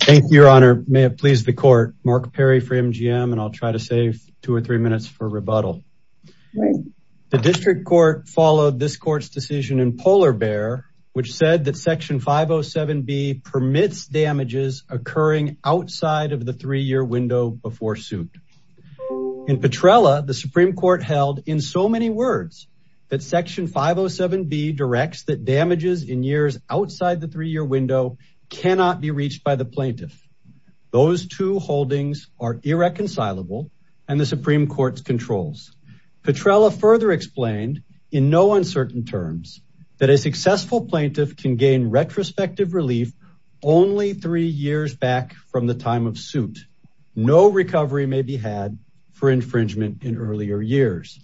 Thank you, your honor. May it please the court, Mark Perry for MGM. And I'll try to save two or three minutes for rebuttal. The district court followed this court's decision in Polar Bear, which said that section 507B permits damages occurring outside of the three-year window before suit. In Petrella, the Supreme Court held in so many words that section 507B directs that damages in years outside the three-year window cannot be reached by the plaintiff. Those two holdings are irreconcilable and the Supreme Court's controls. Petrella further explained in no uncertain terms that a successful plaintiff can gain retrospective relief only three years back from the time of suit. No recovery may be had for infringement in earlier years.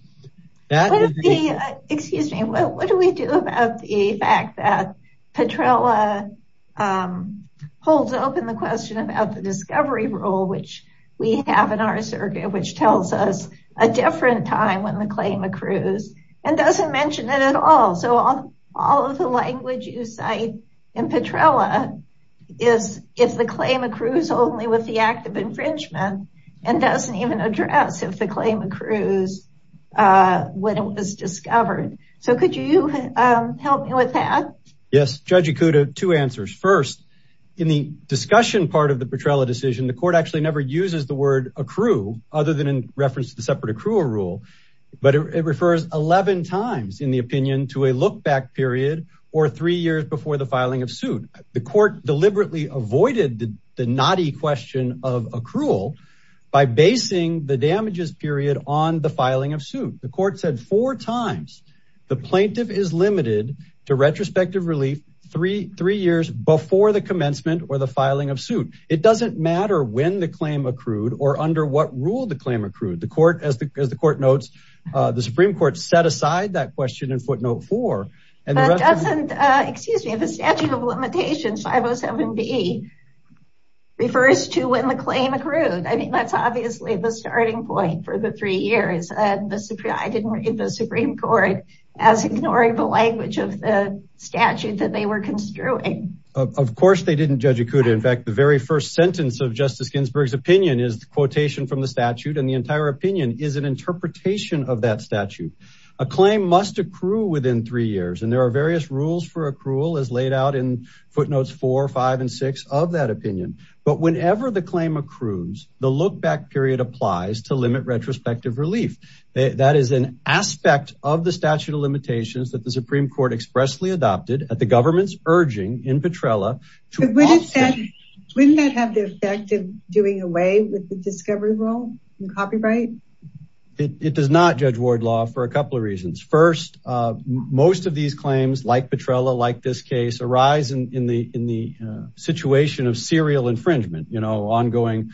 That would be- Excuse me, what do we do about the fact that Petrella holds open the question about the discovery rule, which we have in our circuit, which tells us a different time when the claim accrues and doesn't mention it at all. So all of the language you cite in Petrella is if the claim accrues only with the act of infringement and doesn't even address if the claim accrues when it was discovered. So could you help me with that? Yes, Judge Ikuda, two answers. First, in the discussion part of the Petrella decision, the court actually never uses the word accrue other than in reference to the separate accrual rule, but it refers 11 times in the opinion to a look back period or three years before the filing of suit. The court deliberately avoided the naughty question of accrual by basing the damages period on the filing of suit. The court said four times the plaintiff is limited to retrospective relief three years before the commencement or the filing of suit. It doesn't matter when the claim accrued or under what rule the claim accrued. The court, as the court notes, the Supreme Court set aside that question in footnote four. And it doesn't, excuse me, the statute of limitations 507B refers to when the claim accrued. I mean, that's obviously the starting point for the three years. And I didn't read the Supreme Court as ignoring the language of the statute that they were construing. Of course they didn't, Judge Ikuda. In fact, the very first sentence of Justice Ginsburg's opinion is the quotation from the statute. And the entire opinion is an interpretation of that statute. A claim must accrue within three years. And there are various rules for accrual as laid out in footnotes four, five, and six of that opinion. But whenever the claim accrues, the look back period applies to limit retrospective relief. That is an aspect of the statute of limitations that the Supreme Court expressly adopted at the government's urging in Petrella. Wouldn't that have the effect of doing away with the discovery rule and copyright? It does not, Judge Wardlaw, for a couple of reasons. First, most of these claims like Petrella, like this case, arise in the situation of serial infringement. You know, ongoing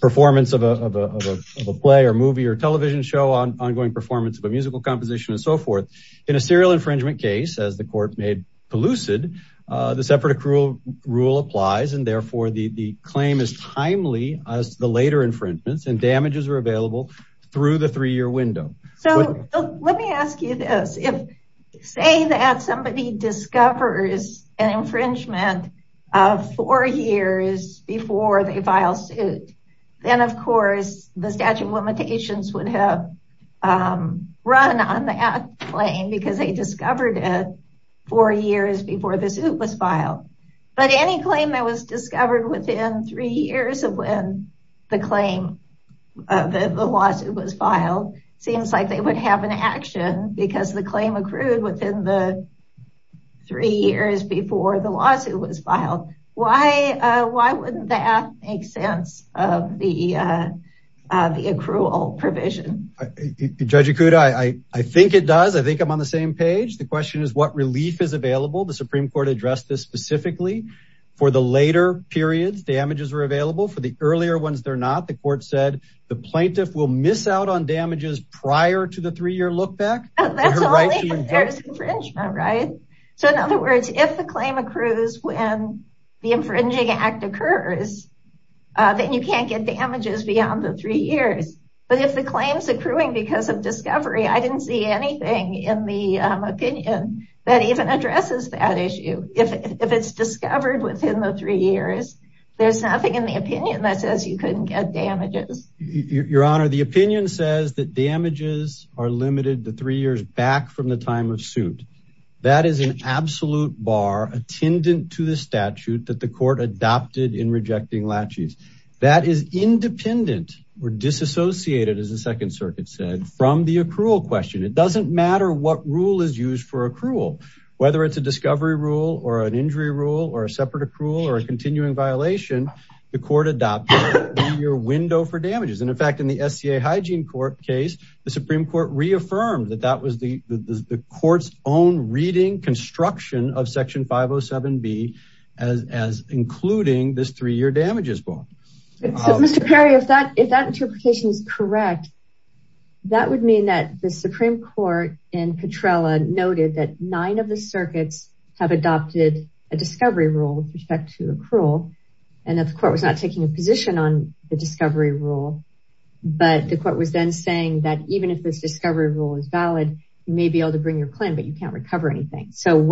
performance of a play or movie or television show, ongoing performance of a musical composition and so forth. In a serial infringement case, as the court made elusive, the separate accrual rule applies. And therefore the claim is timely as the later infringements and damages are available through the three-year window. So let me ask you this. If say that somebody discovers an infringement of four years before they file suit, then of course the statute of limitations would have run on that claim because they discovered it four years before the suit was filed. But any claim that was discovered within three years of when the claim, the lawsuit was filed, seems like they would have an action because the claim accrued within the three years before the lawsuit was filed. Why wouldn't that make sense of the accrual provision? Judge Ikuda, I think it does. I think I'm on the same page. The question is what relief is available. The Supreme Court addressed this specifically for the later periods, damages are available. For the earlier ones, they're not. The court said the plaintiff will miss out on damages prior to the three-year look back. That's only if there's infringement, right? So in other words, if the claim accrues when the infringing act occurs, then you can't get damages beyond the three years. But if the claim's accruing because of discovery, I didn't see anything in the opinion that even addresses that issue. If it's discovered within the three years, there's nothing in the opinion that says you couldn't get damages. Your Honor, the opinion says that damages are limited to three years back from the time of suit. That is an absolute bar attendant to the statute that the court adopted in rejecting laches. That is independent or disassociated, as the Second Circuit said, from the accrual question. It doesn't matter what rule is used for accrual, whether it's a discovery rule or an injury rule or a separate accrual or a continuing violation, the court adopted a three-year window for damages. And in fact, in the SCA Hygiene Court case, the Supreme Court reaffirmed that that was the court's own reading construction of Section 507B as including this three-year damages bar. Mr. Perry, if that interpretation is correct, that would mean that the Supreme Court in Petrella noted that nine of the circuits have adopted a discovery rule with respect to accrual, and that the court was not taking a position on the discovery rule, but the court was then saying that even if this discovery rule is valid, you may be able to bring your claim, but you can't recover anything. So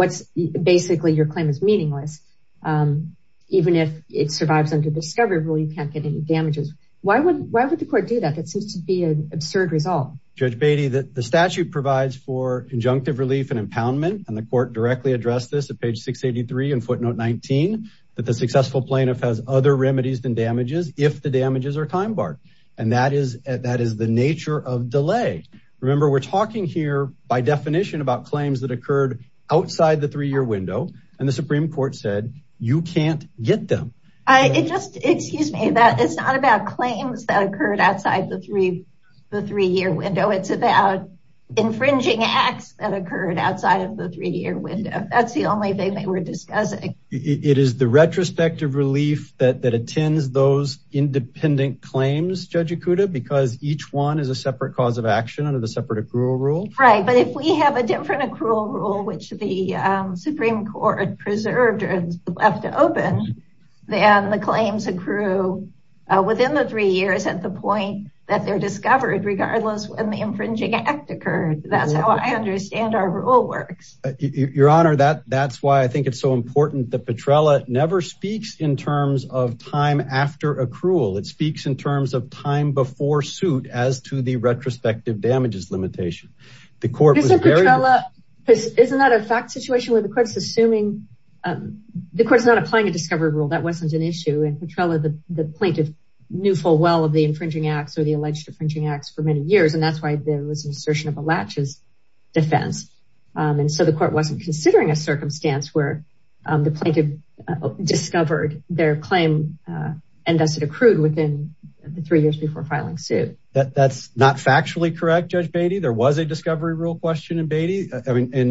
basically, your claim is meaningless. Even if it survives under the discovery rule, you can't get any damages. Why would the court do that? That seems to be an absurd result. Judge Beatty, the statute provides for injunctive relief and impoundment, and the court directly addressed this at page 683 in footnote 19, that the successful plaintiff has other remedies than damages if the damages are time barred. And that is the nature of delay. Remember, we're talking here by definition about claims that occurred outside the three-year window, and the Supreme Court said, you can't get them. It just, excuse me, that it's not about claims that occurred outside the three-year window. It's about infringing acts that occurred outside of the three-year window. That's the only thing they were discussing. It is the retrospective relief that attends those independent claims, Judge Ikuda, because each one is a separate cause of action under the separate accrual rule. Right, but if we have a different accrual rule, which the Supreme Court preserved or left open, then the claims accrue within the three years at the point that they're discovered, regardless when the infringing act occurred. That's how I understand our rule works. Your Honor, that's why I think it's so important that Petrella never speaks in terms of time after accrual. It speaks in terms of time before suit as to the retrospective damages limitation. The court was very- Isn't Petrella, isn't that a fact situation where the court's assuming, the court's not applying a discovery rule. That wasn't an issue. And Petrella, the plaintiff, knew full well of the infringing acts or the alleged infringing acts for many years. And that's why there was an assertion of a latches defense. And so the court wasn't considering a circumstance where the plaintiff discovered their claim and thus it accrued within the three years before filing suit. That's not factually correct, Judge Beatty. There was a discovery rule question in Beatty. I mean, in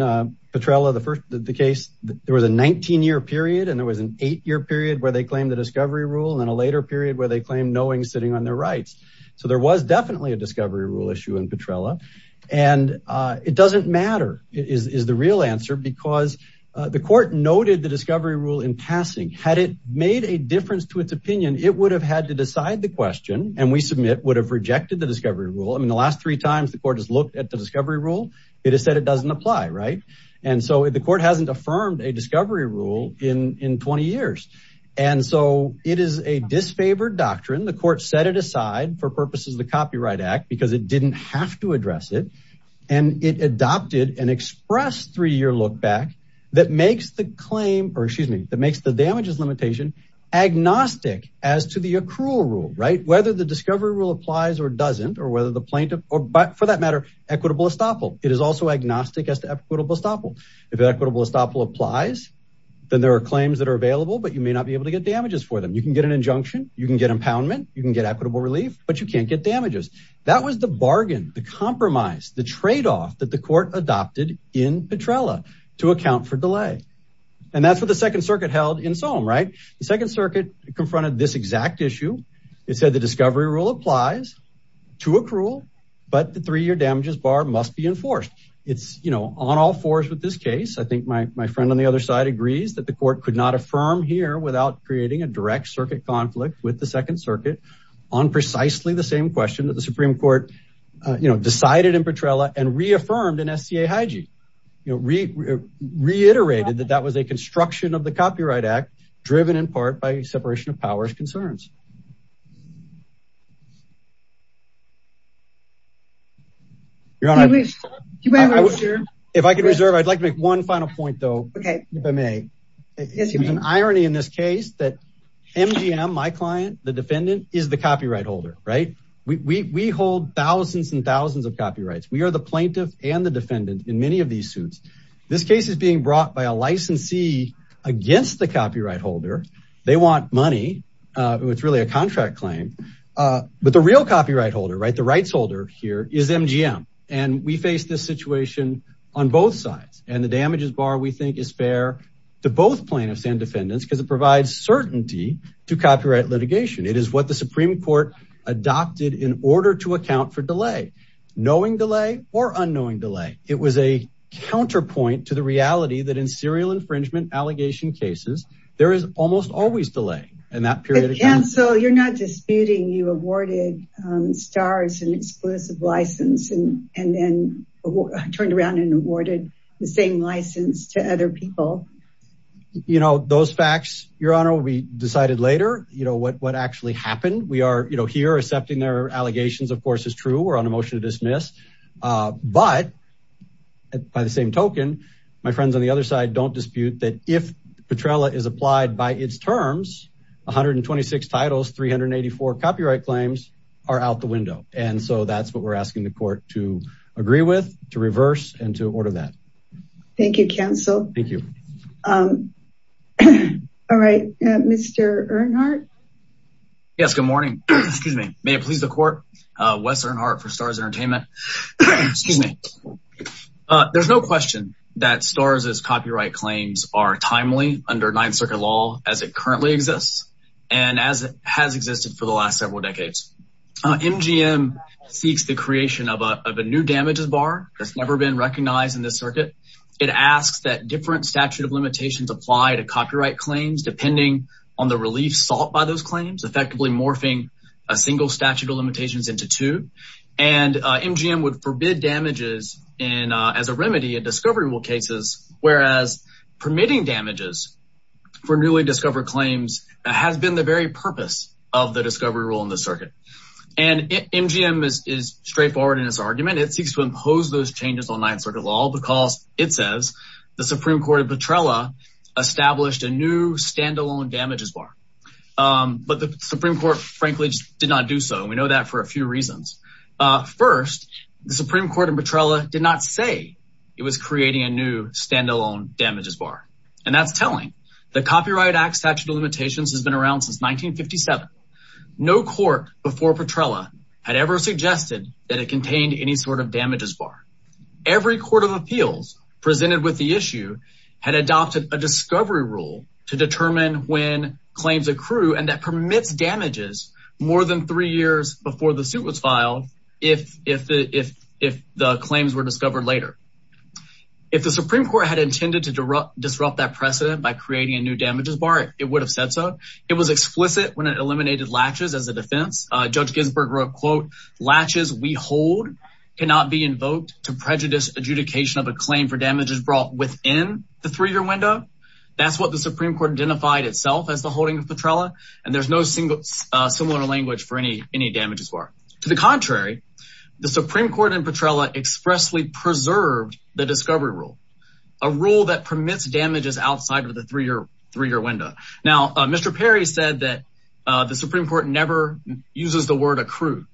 Petrella, the first, the case, there was a 19 year period and there was an eight year period where they claimed the discovery rule and then a later period where they claimed knowing sitting on their rights. So there was definitely a discovery rule issue in Petrella. And it doesn't matter is the real answer because the court noted the discovery rule in passing. Had it made a difference to its opinion, it would have had to decide the question. And we submit would have rejected the discovery rule. I mean, the last three times the court has looked at the discovery rule, it has said it doesn't apply, right? And so the court hasn't affirmed a discovery rule in 20 years. And so it is a disfavored doctrine. The court set it aside for purposes of the Copyright Act because it didn't have to address it. And it adopted an express three year look back that makes the claim or excuse me, that makes the damages limitation agnostic as to the accrual rule, right? Whether the discovery rule applies or doesn't or whether the plaintiff or for that matter, equitable estoppel. It is also agnostic as to equitable estoppel. If equitable estoppel applies, then there are claims that are available, but you may not be able to get damages for them. You can get an injunction, you can get impoundment, you can get equitable relief, but you can't get damages. That was the bargain, the compromise, the trade-off that the court adopted in Petrella to account for delay. And that's what the Second Circuit held in Soham, right? The Second Circuit confronted this exact issue. It said the discovery rule applies to accrual, but the three-year damages bar must be enforced. It's on all fours with this case. I think my friend on the other side agrees that the court could not affirm here without creating a direct circuit conflict with the Second Circuit on precisely the same question that the Supreme Court decided in Petrella and reaffirmed in SCA Hygiee. Reiterated that that was a construction of the Copyright Act driven in part by separation of powers concerns. Your Honor, if I could reserve, I'd like to make one final point though, if I may. It's an irony in this case that MGM, my client, the defendant, is the copyright holder, right? We hold thousands and thousands of copyrights. We are the plaintiff and the defendant in many of these suits. This case is being brought by a licensee against the copyright holder. They want money, it's really a contract claim, but the real copyright holder, right, the rights holder here is MGM. And we face this situation on both sides and the damages bar we think is fair to both plaintiffs and defendants because it provides certainty to copyright litigation. It is what the Supreme Court adopted in order to account for delay, knowing delay or unknowing delay. It was a counterpoint to the reality there is almost always delay in that period of time. So you're not disputing you awarded STARS an exclusive license and then turned around and awarded the same license to other people. You know, those facts, Your Honor, will be decided later, you know, what actually happened. We are, you know, here accepting their allegations, of course, is true. We're on a motion to dismiss, but by the same token, my friends on the other side don't dispute that if Petrella is applied by its terms 126 titles, 384 copyright claims are out the window. And so that's what we're asking the court to agree with, to reverse and to order that. Thank you, counsel. Thank you. All right, Mr. Earnhardt. Yes, good morning, excuse me. May it please the court, Wes Earnhardt for STARS Entertainment. Excuse me. There's no question that STARS' copyright claims are timely under Ninth Circuit law as it currently exists. And as it has existed for the last several decades. MGM seeks the creation of a new damages bar that's never been recognized in this circuit. It asks that different statute of limitations apply to copyright claims, depending on the relief sought by those claims, effectively morphing a single statute of limitations into two. And MGM would forbid damages as a remedy in discovery rule cases. Whereas permitting damages for newly discovered claims has been the very purpose of the discovery rule in the circuit. And MGM is straightforward in its argument. It seeks to impose those changes on Ninth Circuit law because it says the Supreme Court of Petrella established a new standalone damages bar. But the Supreme Court frankly did not do so. And we know that for a few reasons. First, the Supreme Court in Petrella did not say it was creating a new standalone damages bar. And that's telling. The Copyright Act Statute of Limitations has been around since 1957. No court before Petrella had ever suggested that it contained any sort of damages bar. Every court of appeals presented with the issue had adopted a discovery rule to determine when claims accrue and that permits damages more than three years before the suit was filed if the claims were discovered later. If the Supreme Court had intended to disrupt that precedent by creating a new damages bar, it would have said so. It was explicit when it eliminated latches as a defense. Judge Ginsburg wrote, quote, "'Latches we hold cannot be invoked "'to prejudice adjudication of a claim "'for damages brought within the three-year window.'" That's what the Supreme Court identified itself as the holding of Petrella. And there's no similar language for any damages bar. To the contrary, the Supreme Court in Petrella expressly preserved the discovery rule, a rule that permits damages outside of the three-year window. Now, Mr. Perry said that the Supreme Court never uses the word accrue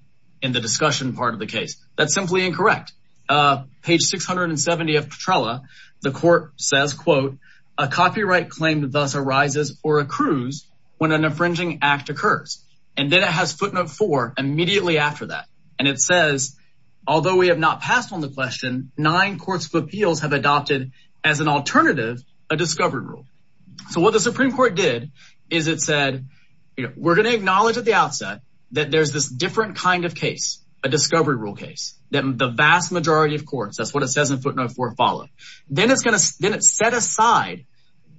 in the discussion part of the case. That's simply incorrect. Page 670 of Petrella, the court says, quote, "'A copyright claim thus arises or accrues "'when an infringing act occurs.' And it says, although we have not passed on the question, "'Nine courts of appeals have adopted "'as an alternative, a discovery rule.'" So what the Supreme Court did is it said, we're gonna acknowledge at the outset that there's this different kind of case, a discovery rule case, that the vast majority of courts, that's what it says in footnote four, follow. Then it set aside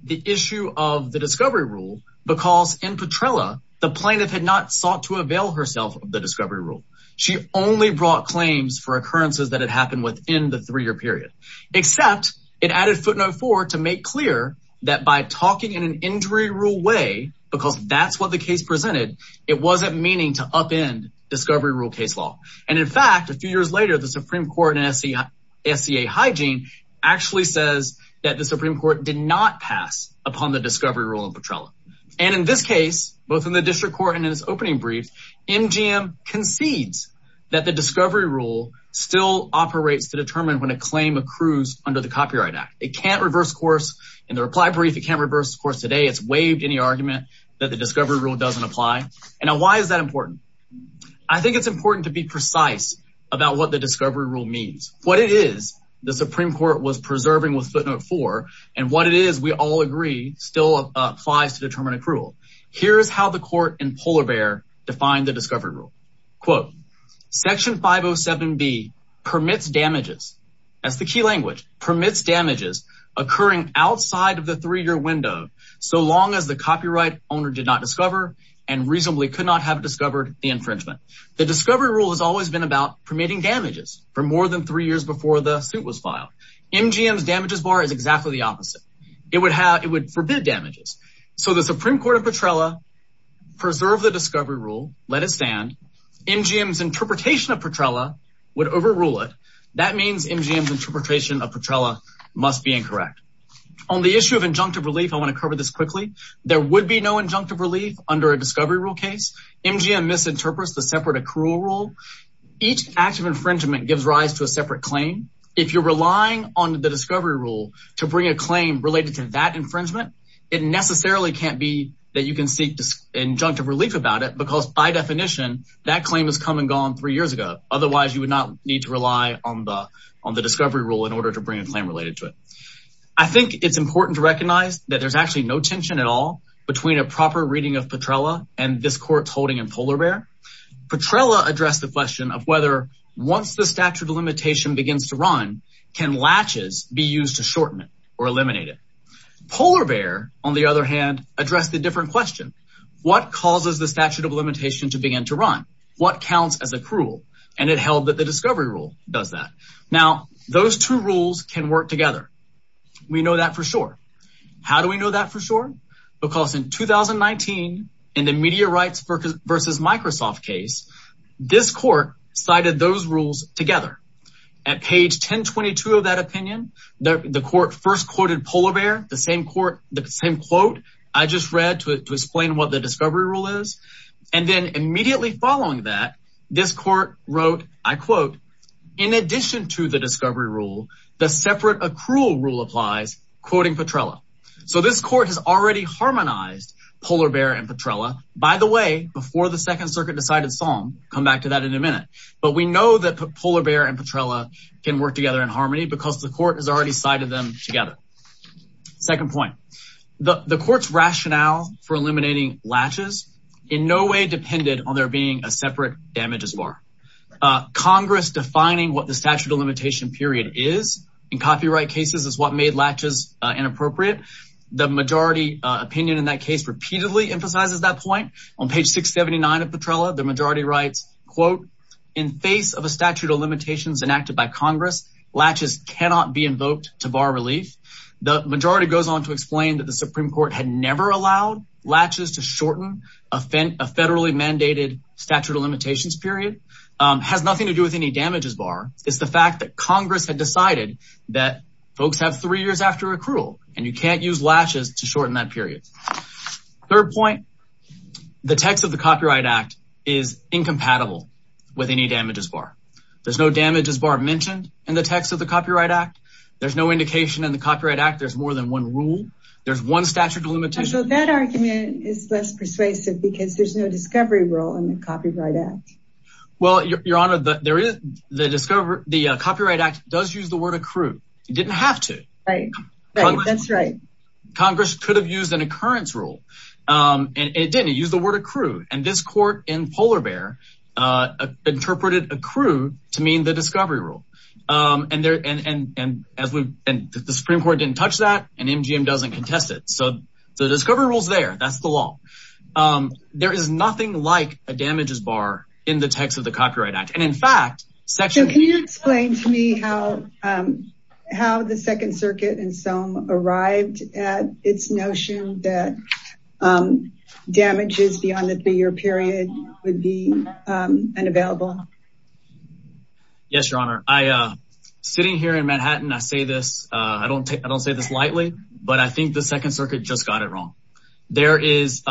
the issue of the discovery rule because in Petrella, the plaintiff had not sought to avail herself of the discovery rule. She only brought claims for occurrences that had happened within the three-year period, except it added footnote four to make clear that by talking in an injury rule way, because that's what the case presented, it wasn't meaning to upend discovery rule case law. And in fact, a few years later, the Supreme Court and SCA hygiene actually says that the Supreme Court did not pass upon the discovery rule in Petrella. And in this case, both in the district court and in this opening brief, MGM concedes that the discovery rule still operates to determine when a claim accrues under the Copyright Act. It can't reverse course. In the reply brief, it can't reverse course today. It's waived any argument that the discovery rule doesn't apply. And now why is that important? I think it's important to be precise about what the discovery rule means. What it is, the Supreme Court was preserving with footnote four, and what it is, we all agree, still applies to determine accrual. Here's how the court in polar bear defined the discovery rule. Quote, section 507B permits damages. That's the key language, permits damages occurring outside of the three-year window, so long as the copyright owner did not discover and reasonably could not have discovered the infringement. The discovery rule has always been about permitting damages for more than three years before the suit was filed. MGM's damages bar is exactly the opposite. It would have, it would forbid damages. So the Supreme Court of Petrella preserved the discovery rule, let it stand. MGM's interpretation of Petrella would overrule it. That means MGM's interpretation of Petrella must be incorrect. On the issue of injunctive relief, I want to cover this quickly. There would be no injunctive relief under a discovery rule case. MGM misinterprets the separate accrual rule. Each act of infringement gives rise to a separate claim. If you're relying on the discovery rule to bring a claim related to that infringement, it necessarily can't be that you can seek injunctive relief about it because by definition, that claim has come and gone three years ago. Otherwise you would not need to rely on the discovery rule in order to bring a claim related to it. I think it's important to recognize that there's actually no tension at all between a proper reading of Petrella and this court's holding in Polar Bear. Petrella addressed the question of whether once the statute of limitation begins to run, can latches be used to shorten it or eliminate it? Polar Bear, on the other hand, addressed the different question. What causes the statute of limitation to begin to run? What counts as accrual? And it held that the discovery rule does that. Now, those two rules can work together. We know that for sure. How do we know that for sure? Because in 2019, in the Media Rights versus Microsoft case, this court cited those rules together. At page 1022 of that opinion, the court first quoted Polar Bear, the same quote I just read to explain what the discovery rule is. And then immediately following that, this court wrote, I quote, in addition to the discovery rule, the separate accrual rule applies, quoting Petrella. So this court has already harmonized Polar Bear and Petrella. By the way, before the second circuit decided song, come back to that in a minute. But we know that Polar Bear and Petrella can work together in harmony because the court has already cited them together. Second point, the court's rationale for eliminating latches in no way depended on there being a separate damages bar. Congress defining what the statute of limitation period is in copyright cases is what made latches inappropriate. The majority opinion in that case repeatedly emphasizes that point. On page 679 of Petrella, the majority writes, quote, in face of a statute of limitations enacted by Congress, latches cannot be invoked to bar relief. The majority goes on to explain that the Supreme Court had never allowed latches to shorten a federally mandated statute of limitations period, has nothing to do with any damages bar. It's the fact that Congress had decided that folks have three years after accrual and you can't use latches to shorten that period. Third point, the text of the Copyright Act is incompatible with any damages bar. There's no damages bar mentioned in the text of the Copyright Act. There's no indication in the Copyright Act there's more than one rule. There's one statute of limitation. So that argument is less persuasive because there's no discovery rule in the Copyright Act. Well, Your Honor, the Copyright Act does use the word accrue. It didn't have to. Right, that's right. Congress could have used an occurrence rule and it didn't, it used the word accrue. And this court in Polar Bear interpreted accrue to mean the discovery rule. And the Supreme Court didn't touch that and MGM doesn't contest it. So the discovery rule's there, that's the law. There is nothing like a damages bar in the text of the Copyright Act. And in fact, section- So can you explain to me how the Second Circuit and SOME arrived at its notion that damages beyond the three-year period would be unavailable? Yes, Your Honor. Sitting here in Manhattan, I say this, I don't say this lightly, but I think the Second Circuit just got it wrong. There was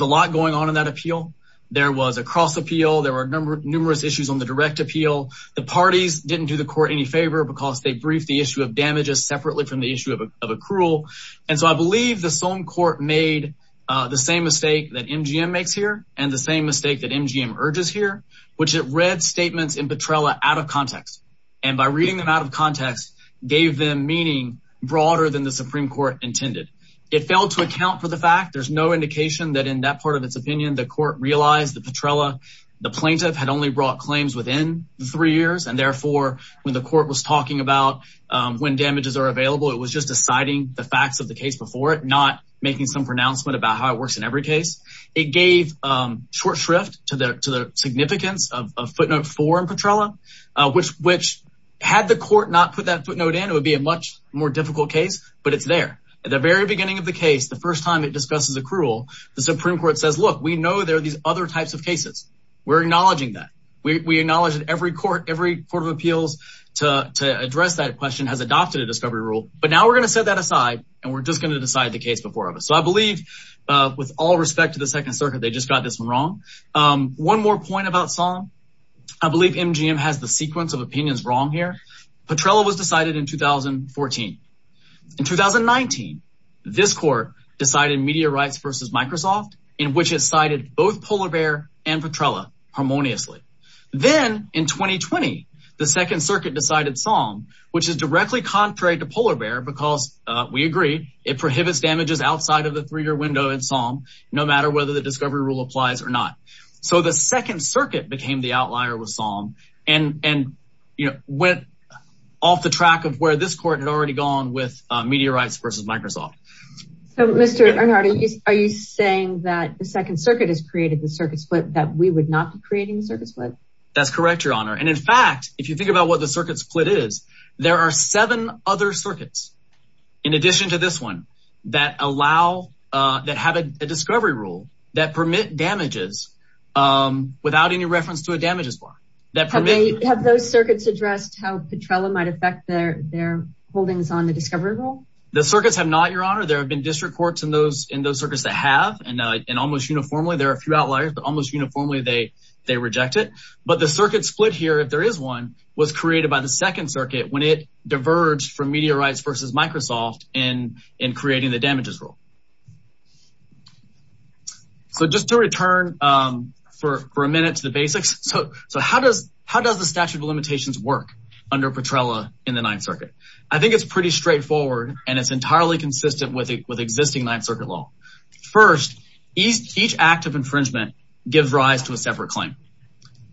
a lot going on in that appeal. There was a cross appeal. There were numerous issues on the direct appeal. The parties didn't do the court any favor because they briefed the issue of damages separately from the issue of accrual. And so I believe the SOME court made the same mistake that MGM makes here and the same mistake that MGM urges here, which it read statements in Petrella out of context. And by reading them out of context, gave them meaning broader than the Supreme Court intended. It failed to account for the fact, there's no indication that in that part of its opinion, the court realized that Petrella, the plaintiff, had only brought claims within the three years. And therefore, when the court was talking about when damages are available, it was just deciding the facts of the case before it, not making some pronouncement about how it works in every case. It gave short shrift to the significance of footnote four in Petrella, which had the court not put that footnote in, it would be a much more difficult case, but it's there. At the very beginning of the case, the first time it discusses accrual, the Supreme Court says, look, we know there are these other types of cases. We're acknowledging that. We acknowledge that every court, every court of appeals to address that question has adopted a discovery rule, but now we're gonna set that aside and we're just gonna decide the case before us. So I believe with all respect to the Second Circuit, they just got this one wrong. One more point about SOM. I believe MGM has the sequence of opinions wrong here. Petrella was decided in 2014. In 2019, this court decided Media Rights versus Microsoft, in which it cited both Polar Bear and Petrella harmoniously. Then in 2020, the Second Circuit decided SOM, which is directly contrary to Polar Bear because we agree it prohibits damages outside of the three-year window in SOM, no matter whether the discovery rule applies or not. So the Second Circuit became the outlier with SOM and went off the track of where this court had already gone with Media Rights versus Microsoft. So Mr. Arnard, are you saying that the Second Circuit has created the circuit split that we would not be creating the circuit split? That's correct, Your Honor. And in fact, if you think about what the circuit split is, there are seven other circuits in addition to this one that have a discovery rule that permit damages without any reference to a damages bar. Have those circuits addressed how Petrella might affect their holdings on the discovery rule? The circuits have not, Your Honor. There have been district courts in those circuits that have, and almost uniformly, there are a few outliers, but almost uniformly, they reject it. But the circuit split here, if there is one, was created by the Second Circuit when it diverged from Media Rights versus Microsoft in creating the damages rule. So just to return for a minute to the basics, so how does the statute of limitations work under Petrella in the Ninth Circuit? I think it's pretty straightforward and it's entirely consistent with existing Ninth Circuit law. First, each act of infringement gives rise to a separate claim.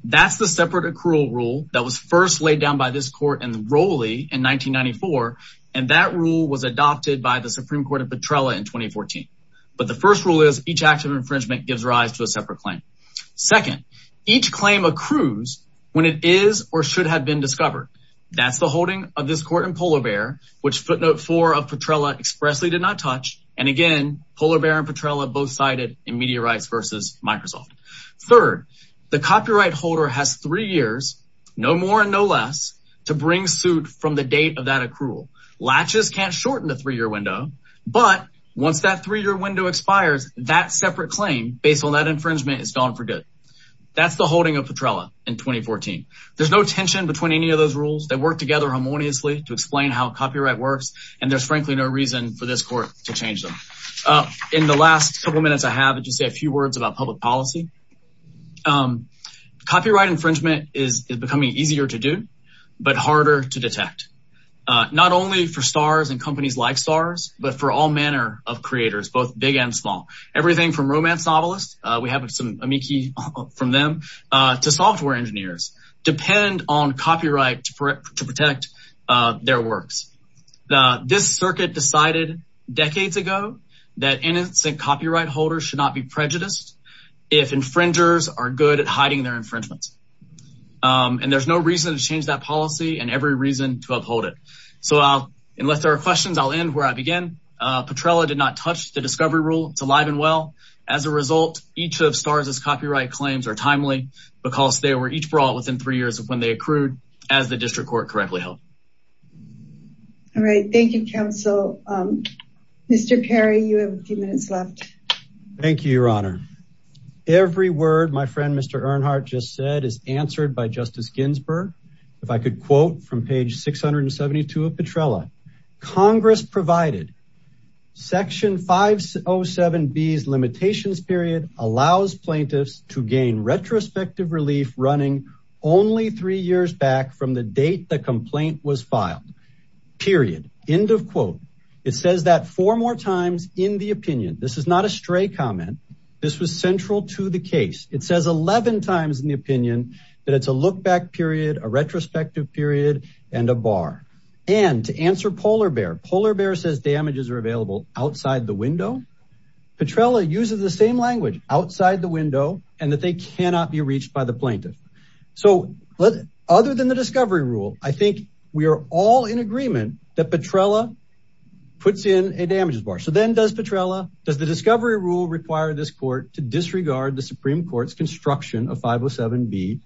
That's the separate accrual rule that was first laid down by this court in Rolle in 1994, and that rule was adopted by the Supreme Court of Petrella in 2014. But the first rule is each act of infringement gives rise to a separate claim. Second, each claim accrues when it is or should have been discovered. That's the holding of this court in Polar Bear, which footnote four of Petrella expressly did not touch. And again, Polar Bear and Petrella both cited in Media Rights versus Microsoft. Third, the copyright holder has three years, no more and no less, to bring suit from the date of that accrual. Latches can't shorten the three-year window, but once that three-year window expires, that separate claim, based on that infringement, is gone for good. That's the holding of Petrella in 2014. There's no tension between any of those rules. They work together harmoniously to explain how copyright works, and there's frankly no reason for this court to change them. In the last couple of minutes I have, I'll just say a few words about public policy. Copyright infringement is becoming easier to do, but harder to detect. Not only for stars and companies like stars, but for all manner of creators, both big and small. Everything from romance novelists, we have some amici from them, to software engineers, depend on copyright to protect their works. This circuit decided decades ago that innocent copyright holders should not be prejudiced if infringers are good at hiding their infringements. And there's no reason to change that policy and every reason to uphold it. So unless there are questions, I'll end where I began. Petrella did not touch the discovery rule. It's alive and well. As a result, each of stars' copyright claims are timely because they were each brought within three years of when they accrued as the district court correctly held. All right, thank you, counsel. Mr. Perry, you have a few minutes left. Thank you, your honor. Every word my friend, Mr. Earnhardt just said is answered by Justice Ginsburg. If I could quote from page 672 of Petrella, Congress provided section 507B's limitations period allows plaintiffs to gain retrospective relief running only three years back from the date the complaint was filed, period. End of quote. It says that four more times in the opinion. This is not a stray comment. This was central to the case. It says 11 times in the opinion that it's a look back period, a retrospective period and a bar. And to answer Polar Bear, Polar Bear says damages are available outside the window. Petrella uses the same language, outside the window and that they cannot be reached by the plaintiff. So other than the discovery rule, I think we are all in agreement that Petrella puts in a damages bar. So then does Petrella, does the discovery rule require this court to disregard the Supreme Court's construction of 507B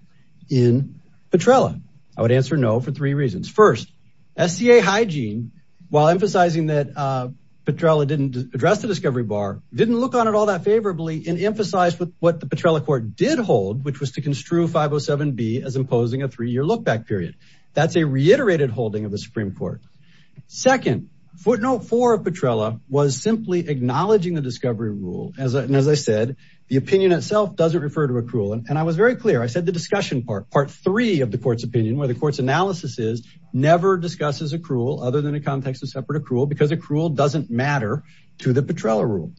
in Petrella? I would answer no for three reasons. First, SCA hygiene, while emphasizing that Petrella didn't address the discovery bar, didn't look on it all that favorably and emphasize with what the Petrella court did hold, which was to construe 507B as imposing a three year look back period. That's a reiterated holding of the Supreme Court. Second, footnote four of Petrella was simply acknowledging the discovery rule. And as I said, the opinion itself doesn't refer to accrual. And I was very clear, I said the discussion part, part three of the court's opinion, where the court's analysis is, never discusses accrual other than a context of separate accrual, because accrual doesn't matter to the Petrella rule.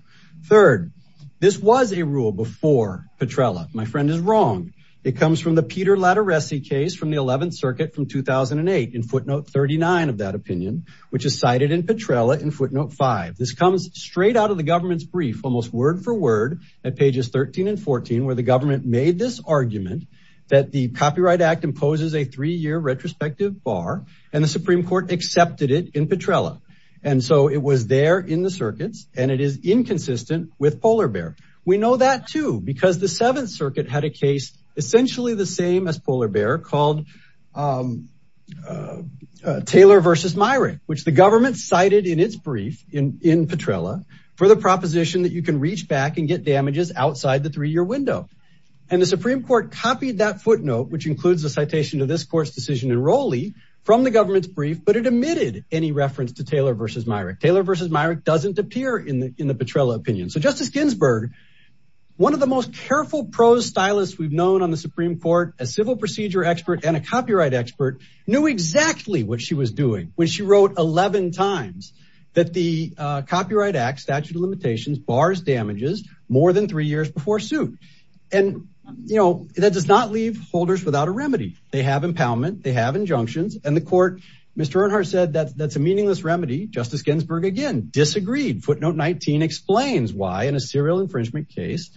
Third, this was a rule before Petrella. My friend is wrong. It comes from the Peter Lattaressi case from the 11th circuit from 2008 in footnote 39 of that opinion, which is cited in Petrella in footnote five. This comes straight out of the government's brief, almost word for word at pages 13 and 14, where the government made this argument that the Copyright Act imposes a three year retrospective bar and the Supreme Court accepted it in Petrella. And so it was there in the circuits and it is inconsistent with Polar Bear. We know that too, because the seventh circuit had a case essentially the same as Polar Bear called Taylor versus Myrick, which the government cited in its brief in Petrella for the proposition that you can reach back and get damages outside the three year window. And the Supreme Court copied that footnote, which includes the citation to this court's decision in Rowley from the government's brief, but it omitted any reference to Taylor versus Myrick. Taylor versus Myrick doesn't appear in the Petrella opinion. So Justice Ginsburg, one of the most careful prose stylists we've known on the Supreme Court a civil procedure expert and a copyright expert knew exactly what she was doing when she wrote 11 times that the Copyright Act statute of limitations bars damages more than three years before suit. And that does not leave holders without a remedy. They have impoundment, they have injunctions and the court, Mr. Earnhardt said that's a meaningless remedy. Justice Ginsburg again disagreed. Footnote 19 explains why in a serial infringement case,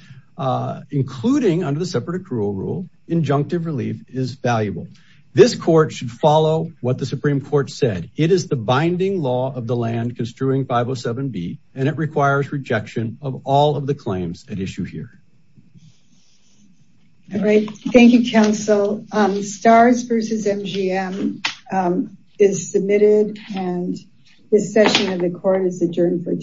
including under the separate accrual rule injunctive relief is valuable. This court should follow what the Supreme Court said. It is the binding law of the land construing 507B and it requires rejection of all of the claims at issue here. All right, thank you, counsel. STARS versus MGM is submitted and this session of the court is adjourned for today.